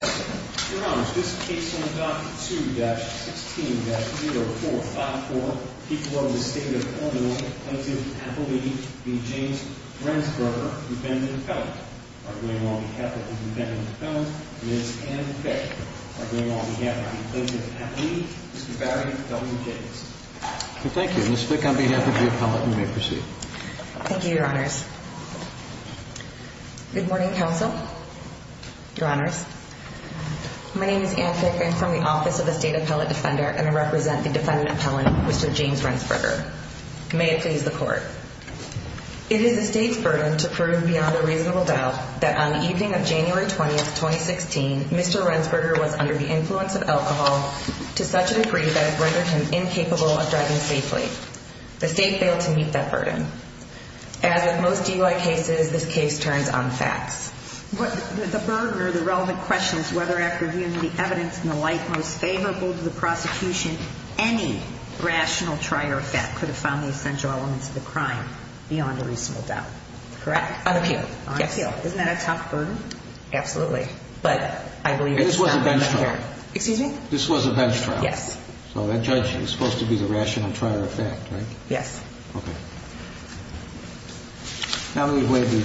2-16-0454 People of the State of Illinois Plaintiff, Appellee, v. James Rensberger, defendant and appellant. I bring on behalf of the defendant and appellant, Ms. Anne Fick. I bring on behalf of the plaintiff and appellee, Mr. Barry W. Davis. Thank you. Ms. Fick, on behalf of the appellant, you may proceed. Thank you, Your Honors. Good morning, Counsel. Your Honors. My name is Anne Fick. I'm from the Office of the State Appellate Defender, and I represent the defendant and appellant, Mr. James Rensberger. May it please the Court. It is the State's burden to prove beyond a reasonable doubt that on the evening of January 20, 2016, Mr. Rensberger was under the influence of alcohol to such a degree that it rendered him incapable of driving safely. The State failed to meet that burden. As with most DUI cases, this case turns on facts. The burden or the relevant question is whether after viewing the evidence in the light most favorable to the prosecution, any rational trier of fact could have found the essential elements of the crime beyond a reasonable doubt. Correct? On appeal. Yes. Isn't that a tough burden? Absolutely. But I believe it's not much better. Excuse me? This was a bench trial. Yes. So that judge was supposed to be the rational trier of fact, right? Yes. Okay. Now that we've laid the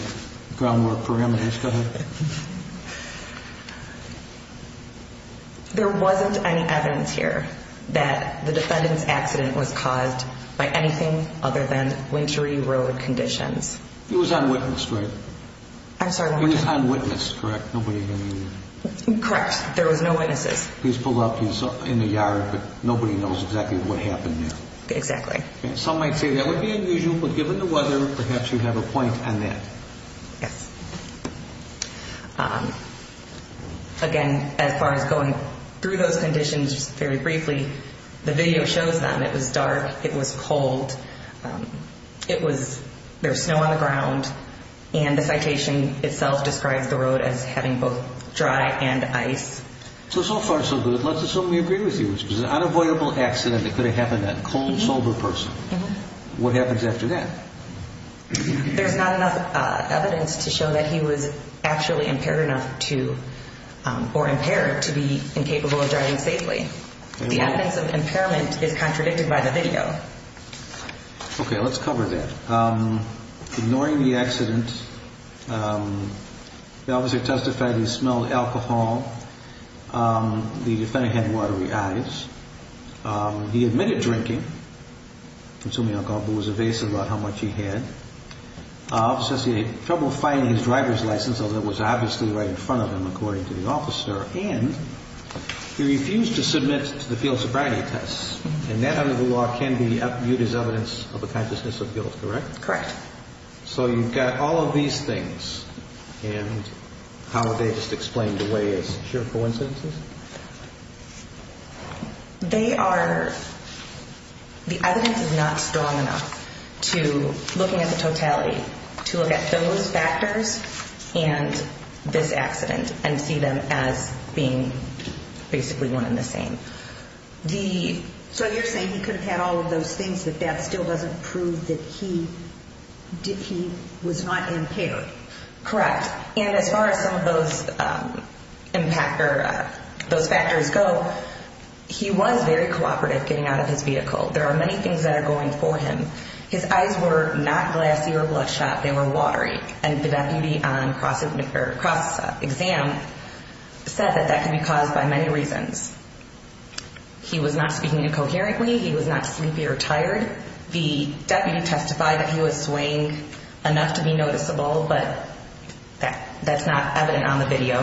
groundwork parameters, go ahead. There wasn't any evidence here that the defendant's accident was caused by anything other than wintry road conditions. He was on witness, right? I'm sorry, what did you say? He was on witness, correct? Nobody can read it. Correct. There was no witnesses. Please pull up. He's in the yard, but nobody knows exactly what happened there. Exactly. Some might say that would be unusual, but given the weather, perhaps you have a point on that. Yes. Again, as far as going through those conditions very briefly, the video shows them. It was dark. It was cold. There was snow on the ground, and the citation itself describes the road as having both dry and ice. So, so far, so good. Let's assume we agree with you. It was an unavoidable accident. It could have happened to a cold, sober person. What happens after that? There's not enough evidence to show that he was actually impaired enough to, or impaired, to be incapable of driving safely. The evidence of impairment is contradicted by the video. Okay, let's cover that. Ignoring the accident, the officer testified he smelled alcohol. The defendant had watery eyes. He admitted drinking, consuming alcohol, but was evasive about how much he had. Officers say he had trouble finding his driver's license, although it was obviously right in front of him, according to the officer. And he refused to submit to the field sobriety tests. And that, under the law, can be viewed as evidence of a consciousness of guilt, correct? Correct. So you've got all of these things, and how would they just explain the way is pure coincidences? They are, the evidence is not strong enough to, looking at the totality, to look at those factors and this accident and see them as being basically one and the same. So you're saying he could have had all of those things, but that still doesn't prove that he was not impaired? Correct. And as far as some of those factors go, he was very cooperative getting out of his vehicle. There are many things that are going for him. His eyes were not glassy or bloodshot. They were watery. And the deputy on cross-exam said that that could be caused by many reasons. He was not speaking incoherently. He was not sleepy or tired. The deputy testified that he was swaying enough to be noticeable, but that's not evident on the video.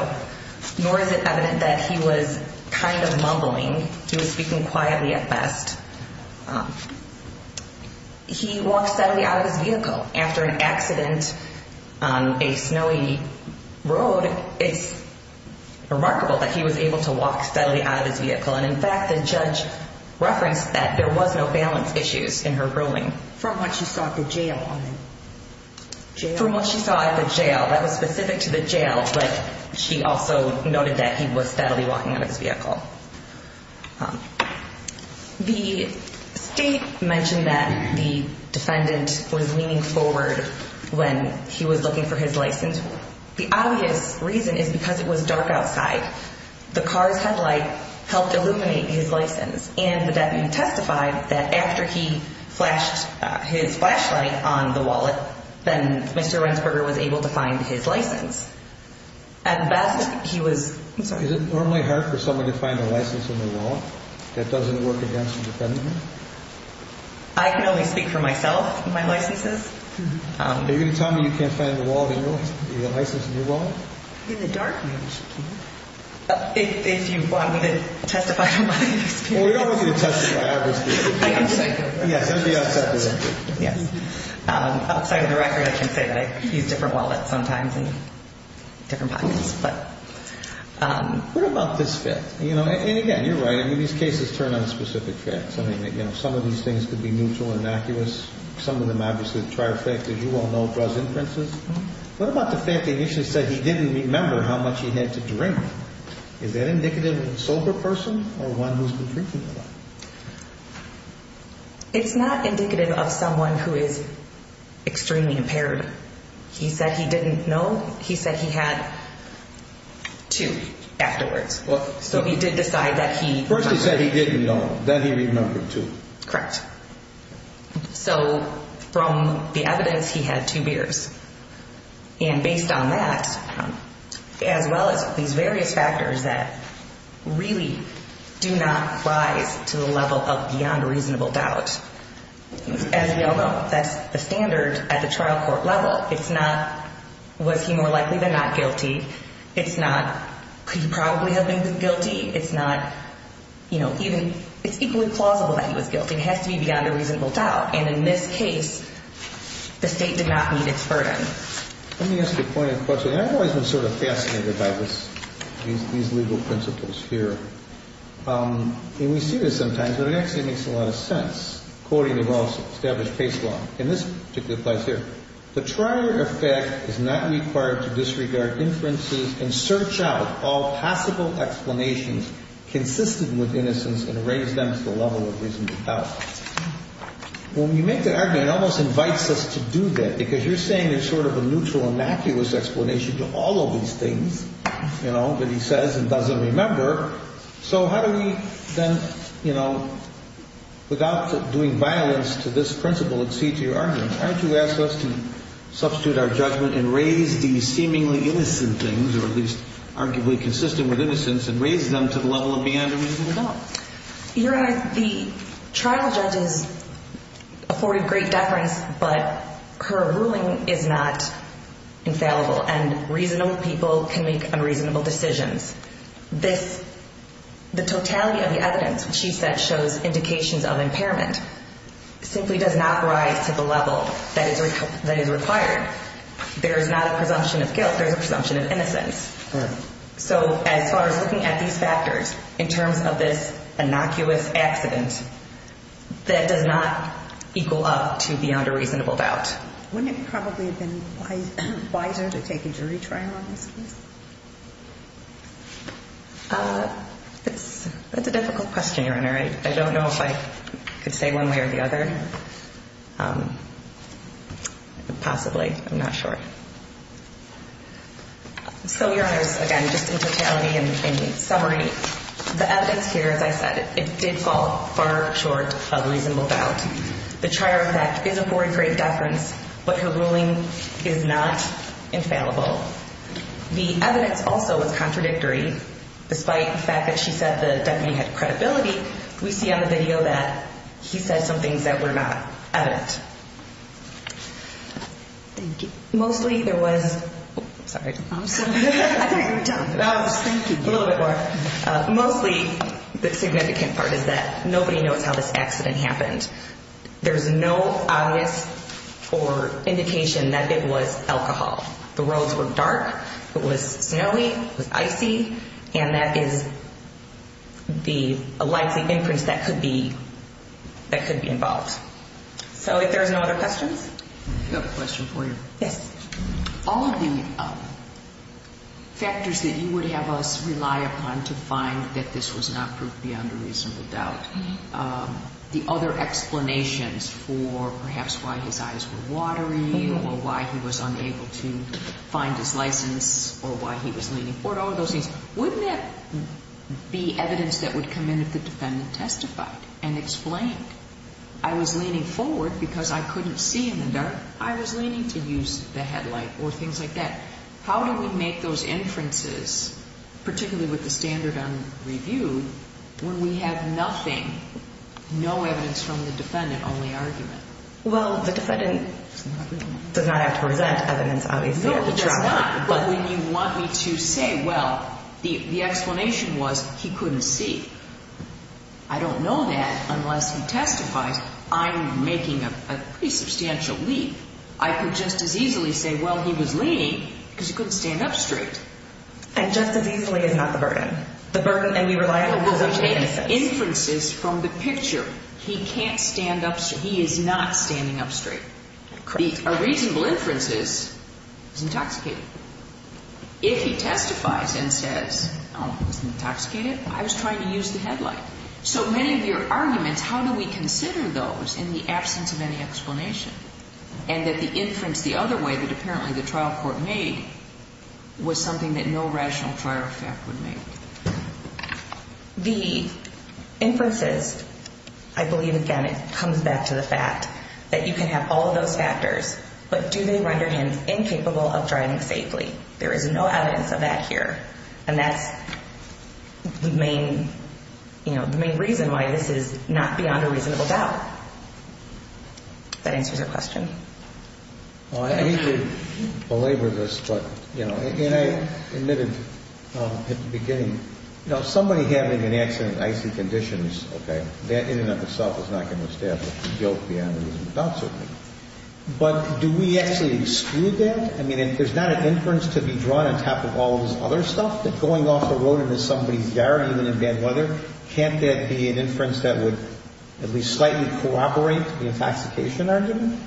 Nor is it evident that he was kind of mumbling. He was speaking quietly at best. He walked steadily out of his vehicle. After an accident on a snowy road, it's remarkable that he was able to walk steadily out of his vehicle. And in fact, the judge referenced that there was no balance issues in her ruling. From what she saw at the jail on him? From what she saw at the jail. That was specific to the jail, but she also noted that he was steadily walking out of his vehicle. The state mentioned that the defendant was leaning forward when he was looking for his license. The obvious reason is because it was dark outside. The car's headlight helped illuminate his license. And the deputy testified that after he flashed his flashlight on the wallet, then Mr. Wentzberger was able to find his license. At best, he was... Is it normally hard for someone to find a license in their wallet? That doesn't work against the defendant? I can only speak for myself and my licenses. Are you going to tell me you can't find the license in your wallet? In the dark, maybe she can. If you want me to testify to my experience. Well, we don't want you to testify, obviously. Yes, that would be unsatisfactory. Outside of the record, I can say that I use different wallets sometimes in different pockets. What about this fact? And again, you're right. These cases turn on specific facts. Some of these things could be neutral and innocuous. Some of them obviously trifecta. You all know it draws inferences. What about the fact that he initially said he didn't remember how much he had to drink? Is that indicative of a sober person or one who's been drinking a lot? It's not indicative of someone who is extremely impaired. He said he didn't know. He said he had two afterwards. So he did decide that he... First he said he didn't know. Then he remembered two. Correct. So from the evidence, he had two beers. And based on that, as well as these various factors that really do not rise to the level of beyond reasonable doubt, as we all know, that's the standard at the trial court level. It's not, was he more likely than not guilty? It's not, could he probably have been guilty? It's not, you know, even... It's equally plausible that he was guilty. It has to be beyond a reasonable doubt. And in this case, the state did not meet its burden. Let me ask you a point of question. I've always been sort of fascinated by these legal principles here. And we see this sometimes, but it actually makes a lot of sense. Quoting the well-established case law in this particular place here. The trial effect is not required to disregard inferences and search out all possible explanations consistent with innocence and raise them to the level of reasonable doubt. When we make the argument, it almost invites us to do that, because you're saying there's sort of a neutral, innocuous explanation to all of these things, you know, that he says and doesn't remember. So how do we then, you know, without doing violence to this principle exceed to your argument, why don't you ask us to substitute our judgment and raise these seemingly innocent things, or at least arguably consistent with innocence, and raise them to the level of beyond a reasonable doubt? Your Honor, the trial judge has afforded great deference, but her ruling is not infallible, and reasonable people can make unreasonable decisions. The totality of the evidence, which she said shows indications of impairment, simply does not rise to the level that is required. There is not a presumption of guilt. There is a presumption of innocence. So as far as looking at these factors in terms of this innocuous accident, that does not equal up to beyond a reasonable doubt. Wouldn't it probably have been wiser to take a jury trial on this case? That's a difficult question, Your Honor. I don't know if I could say one way or the other. Possibly. I'm not sure. So, Your Honors, again, just in totality and summary, the evidence here, as I said, it did fall far short of reasonable doubt. The trial judge has afforded great deference, but her ruling is not infallible. The evidence also was contradictory. Despite the fact that she said the deputy had credibility, we see on the video that he said some things that were not evident. Thank you. Mostly there was – sorry. I thought you were done. Thank you. A little bit more. Mostly the significant part is that nobody knows how this accident happened. There's no obvious or indication that it was alcohol. The roads were dark. It was snowy. It was icy. And that is the likely inference that could be involved. So if there's no other questions. I have a question for you. Yes. All of the factors that you would have us rely upon to find that this was not proof beyond a reasonable doubt, the other explanations for perhaps why his eyes were watery or why he was unable to find his license or why he was leaning forward, all of those things, wouldn't that be evidence that would come in if the defendant testified and explained, I was leaning forward because I couldn't see in the dark. I was leaning to use the headlight or things like that. How do we make those inferences, particularly with the standard unreviewed, when we have nothing, no evidence from the defendant, only argument? Well, the defendant does not have to present evidence, obviously. No, he does not. But when you want me to say, well, the explanation was he couldn't see. I don't know that unless he testifies. I'm making a pretty substantial leap. I could just as easily say, well, he was leaning because he couldn't stand up straight. And just as easily is not the burden. The burden that we rely on. Well, we take inferences from the picture. He can't stand up straight. He is not standing up straight. A reasonable inference is he's intoxicated. If he testifies and says, oh, he's intoxicated, I was trying to use the headlight. So many of your arguments, how do we consider those in the absence of any explanation and that the inference the other way that apparently the trial court made was something that no rational trial effect would make? The inferences, I believe, again, it comes back to the fact that you can have all of those factors, but do they render him incapable of driving safely? There is no evidence of that here. And that's the main reason why this is not beyond a reasonable doubt. If that answers your question. I hate to belabor this, but, you know, and I admitted at the beginning, you know, somebody having an accident in icy conditions, okay, that in and of itself is not going to establish guilt beyond a reasonable doubt, certainly. But do we actually exclude that? I mean, there's not an inference to be drawn on top of all of this other stuff, that going off the road into somebody's yard even in bad weather, can't that be an inference that would at least slightly corroborate the intoxication argument?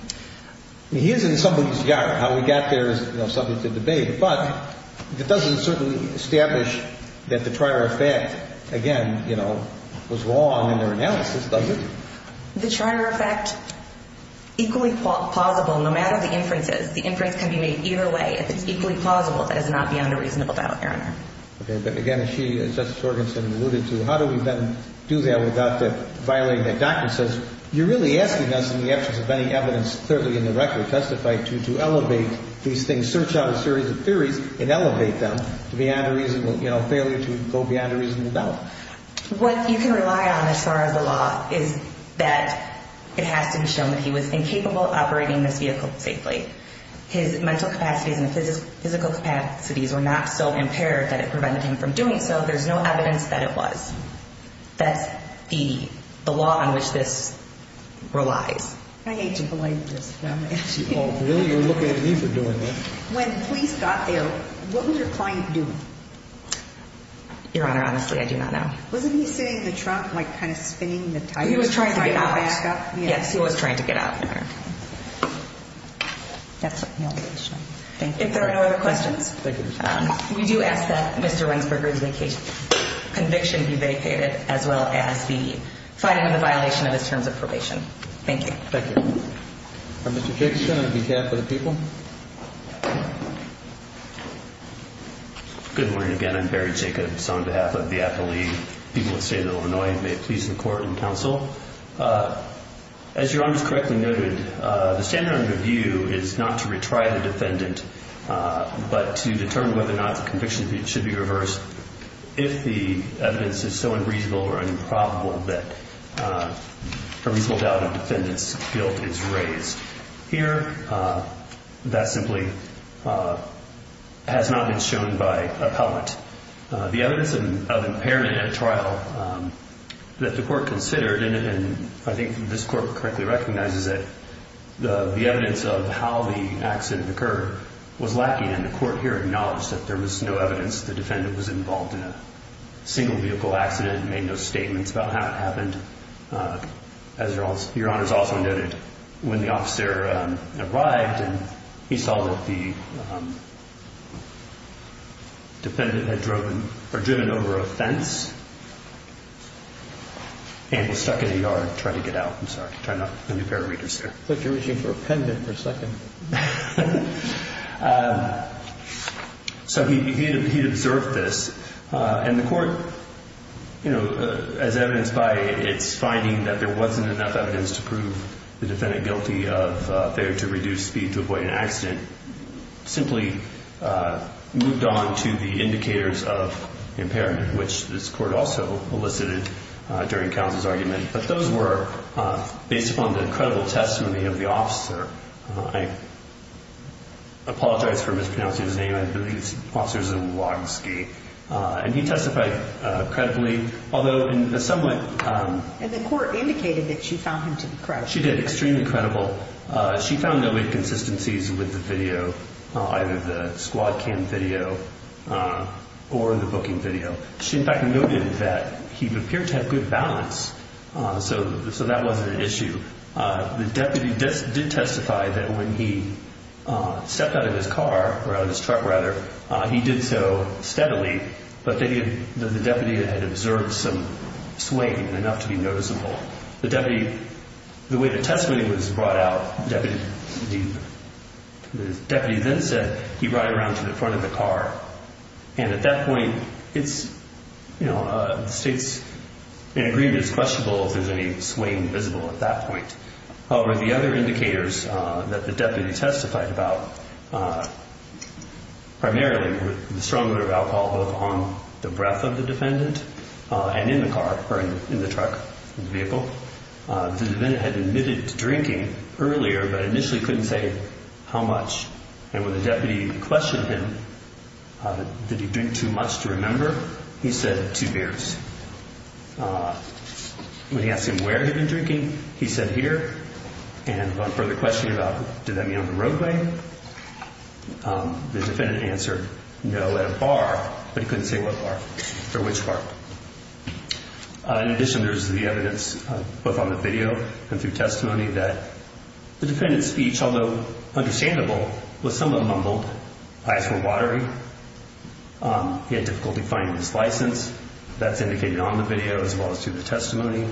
He is in somebody's yard. How he got there is, you know, subject to debate. But it doesn't certainly establish that the trial effect, again, you know, was wrong in their analysis, does it? The trial effect, equally plausible no matter the inferences. The inference can be made either way if it's equally plausible. That is not beyond a reasonable doubt, Your Honor. Okay. But, again, as Justice Jorgensen alluded to, how do we then do that without violating that document? You're really asking us in the absence of any evidence clearly in the record testified to to elevate these things, search out a series of theories and elevate them beyond a reasonable, you know, failure to go beyond a reasonable doubt. What you can rely on as far as the law is that it has to be shown that he was incapable of operating this vehicle safely. His mental capacities and physical capacities were not so impaired that it prevented him from doing so. There's no evidence that it was. That's the law on which this relies. I hate to belabor this, but I'm going to ask you. Oh, really? You're looking at me for doing this. When police got there, what was your client doing? Your Honor, honestly, I do not know. Wasn't he sitting in the trunk, like, kind of spinning the tires? He was trying to get out. Yes, he was trying to get out, Your Honor. That's my only question. If there are no other questions, we do ask that Mr. Wentzberger's conviction be vacated as well as the finding of the violation of his terms of probation. Thank you. Thank you. Mr. Fickson on behalf of the people. Good morning again. I'm Barry Jacobs on behalf of the athlete people of the state of Illinois. May it please the Court and counsel. As Your Honor has correctly noted, the standard under review is not to retry the defendant, but to determine whether or not the conviction should be reversed if the evidence is so unreasonable or unprovable that a reasonable doubt of defendant's guilt is raised. Here, that simply has not been shown by appellant. The evidence of impairment at trial that the Court considered, and I think this Court correctly recognizes it, the evidence of how the accident occurred was lacking, and the Court here acknowledged that there was no evidence the defendant was involved in a single vehicle accident and made no statements about how it happened. As Your Honor has also noted, when the officer arrived and he saw that the defendant had driven over a fence and was stuck in a yard trying to get out. I'm sorry. Try not to impair readers there. I thought you were reaching for a pendant for a second. So he observed this, and the Court, as evidenced by its finding that there wasn't enough evidence to prove the defendant guilty of failure to reduce speed to avoid an accident, simply moved on to the indicators of impairment, which this Court also elicited during Cowns' argument. But those were based upon the credible testimony of the officer. I apologize for mispronouncing his name. I believe it's Officer Zawodnski. And he testified credibly, although in a somewhat... And the Court indicated that she found him to be credible. She did, extremely credible. She found no inconsistencies with the video, either the squad cam video or the booking video. She, in fact, noted that he appeared to have good balance, so that wasn't an issue. The deputy did testify that when he stepped out of his car, or out of his truck, rather, he did so steadily, but that the deputy had observed some swaying enough to be noticeable. The deputy, the way the testimony was brought out, the deputy then said he rode around to the front of the car. And at that point, it's, you know, the State's in agreement, it's questionable if there's any swaying visible at that point. However, the other indicators that the deputy testified about, primarily the strong odor of alcohol, both on the breath of the defendant and in the car, or in the truck, the vehicle, the defendant had admitted to drinking earlier, but initially couldn't say how much. And when the deputy questioned him, did he drink too much to remember, he said, two beers. When he asked him where he'd been drinking, he said, here. And upon further questioning about, did that mean on the roadway, the defendant answered, no, at a bar, but he couldn't say what bar or which bar. In addition, there's the evidence, both on the video and through testimony, that the defendant's speech, although understandable, was somewhat mumbled. Eyes were watery. He had difficulty finding his license. That's indicated on the video, as well as through the testimony.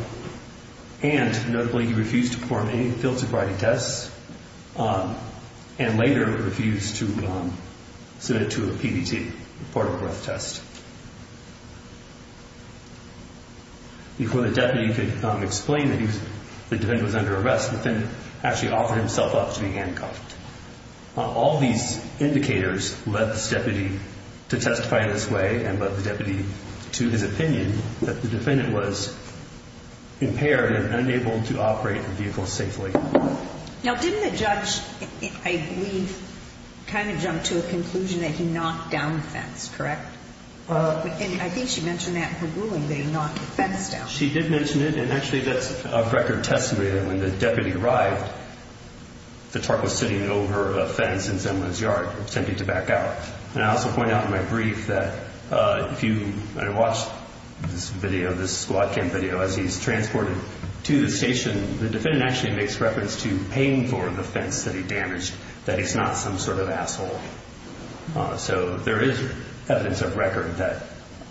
And, notably, he refused to perform any field sobriety tests, and later refused to submit to a PBT, a portable breath test. Before the deputy could explain that the defendant was under arrest, the defendant actually offered himself up to be handcuffed. All these indicators led this deputy to testify in this way, and led the deputy to his opinion that the defendant was impaired and unable to operate the vehicle safely. Now, didn't the judge, I believe, kind of jump to a conclusion that he knocked down the fence, correct? I think she mentioned that in her ruling, that he knocked the fence down. She did mention it, and, actually, that's a record testimony that when the deputy arrived, the truck was sitting over a fence in someone's yard, attempting to back out. And I also point out in my brief that if you watch this video, this squad cam video, as he's transported to the station, the defendant actually makes reference to paying for the fence that he damaged, that he's not some sort of asshole. So there is evidence of record that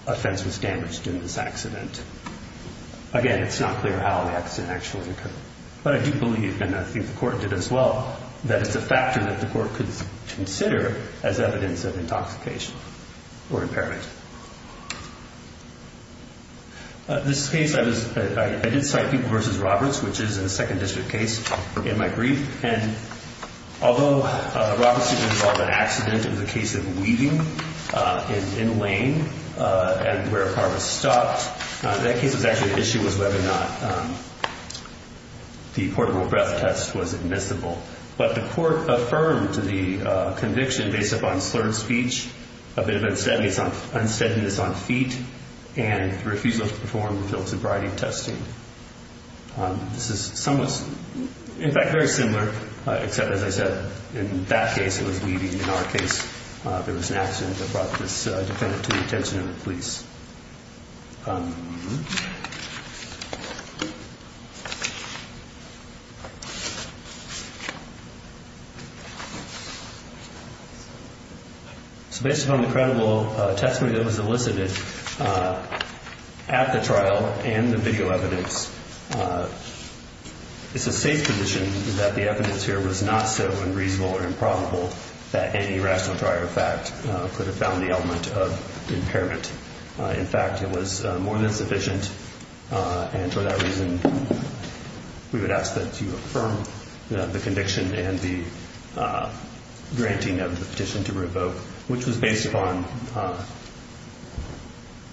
a fence was damaged in this accident. Again, it's not clear how the accident actually occurred, but I do believe, and I think the court did as well, that it's a factor that the court could consider as evidence of intoxication or impairment. This case, I did cite People v. Roberts, which is a 2nd District case in my brief, and although Roberts did involve an accident, it was a case of weaving in a lane where a car was stopped. That case was actually the issue was whether or not the portable breath test was admissible. But the court affirmed the conviction based upon slurred speech, a bit of unsteadiness on feet, and the refusal to perform the physical sobriety testing. This is somewhat, in fact, very similar, except, as I said, in that case it was weaving. In our case, there was an accident that brought this defendant to the attention of the police. So based upon the credible testimony that was elicited at the trial and the video evidence, it's a safe position that the evidence here was not so unreasonable or improbable that any rational trier of fact could have found the element of impairment. In fact, it was more than sufficient, and for that reason, we would ask that you affirm the conviction and the granting of the petition to revoke, which was based upon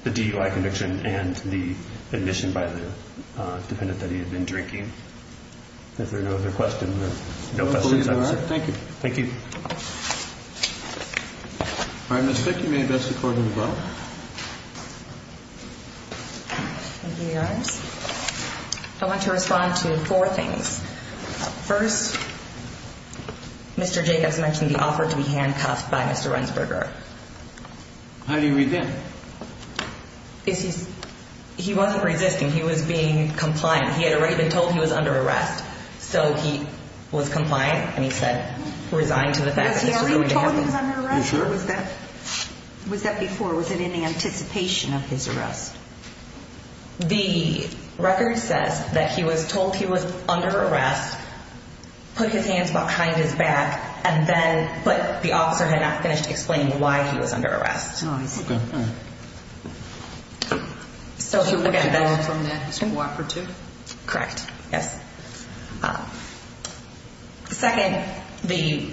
the DUI conviction and the admission by the defendant that he had been drinking. If there are no other questions, there's no questions. I believe there are. Thank you. Thank you. All right, Ms. Fick, you may address the court as well. Thank you, Your Honor. I want to respond to four things. First, Mr. Jacobs mentioned the offer to be handcuffed by Mr. Rendsberger. How do you read that? He wasn't resisting. He was being compliant. He had already been told he was under arrest, so he was compliant, and he said he resigned to the fact that this was going to happen. Was he already told he was under arrest, or was that before? Was it in the anticipation of his arrest? The record says that he was told he was under arrest, put his hands behind his back, but the officer had not finished explaining why he was under arrest. Oh, I see. So, again, that's... So he withdrew from that as a cooperative? Correct, yes. Second, the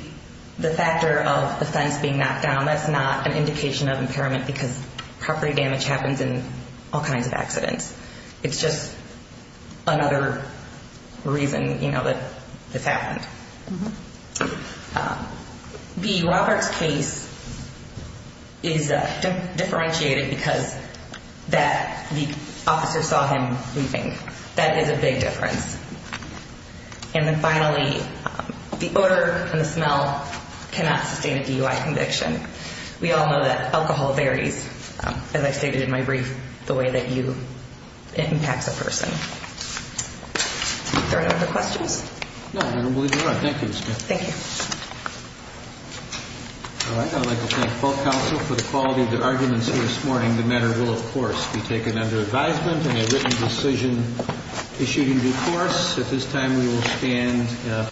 factor of the fence being knocked down, that's not an indication of impairment because property damage happens in all kinds of accidents. It's just another reason, you know, that this happened. B, Robert's case is differentiated because the officer saw him leaving. That is a big difference. And then, finally, the odour and the smell cannot sustain a DUI conviction. We all know that alcohol varies, as I stated in my brief, the way that it impacts a person. Are there any other questions? No, I don't believe there are. Thank you, Ms. Smith. Thank you. All right, I'd like to thank both counsel for the quality of their arguments here this morning. The matter will, of course, be taken under advisement and a written decision issued in due course. At this time, we will stand.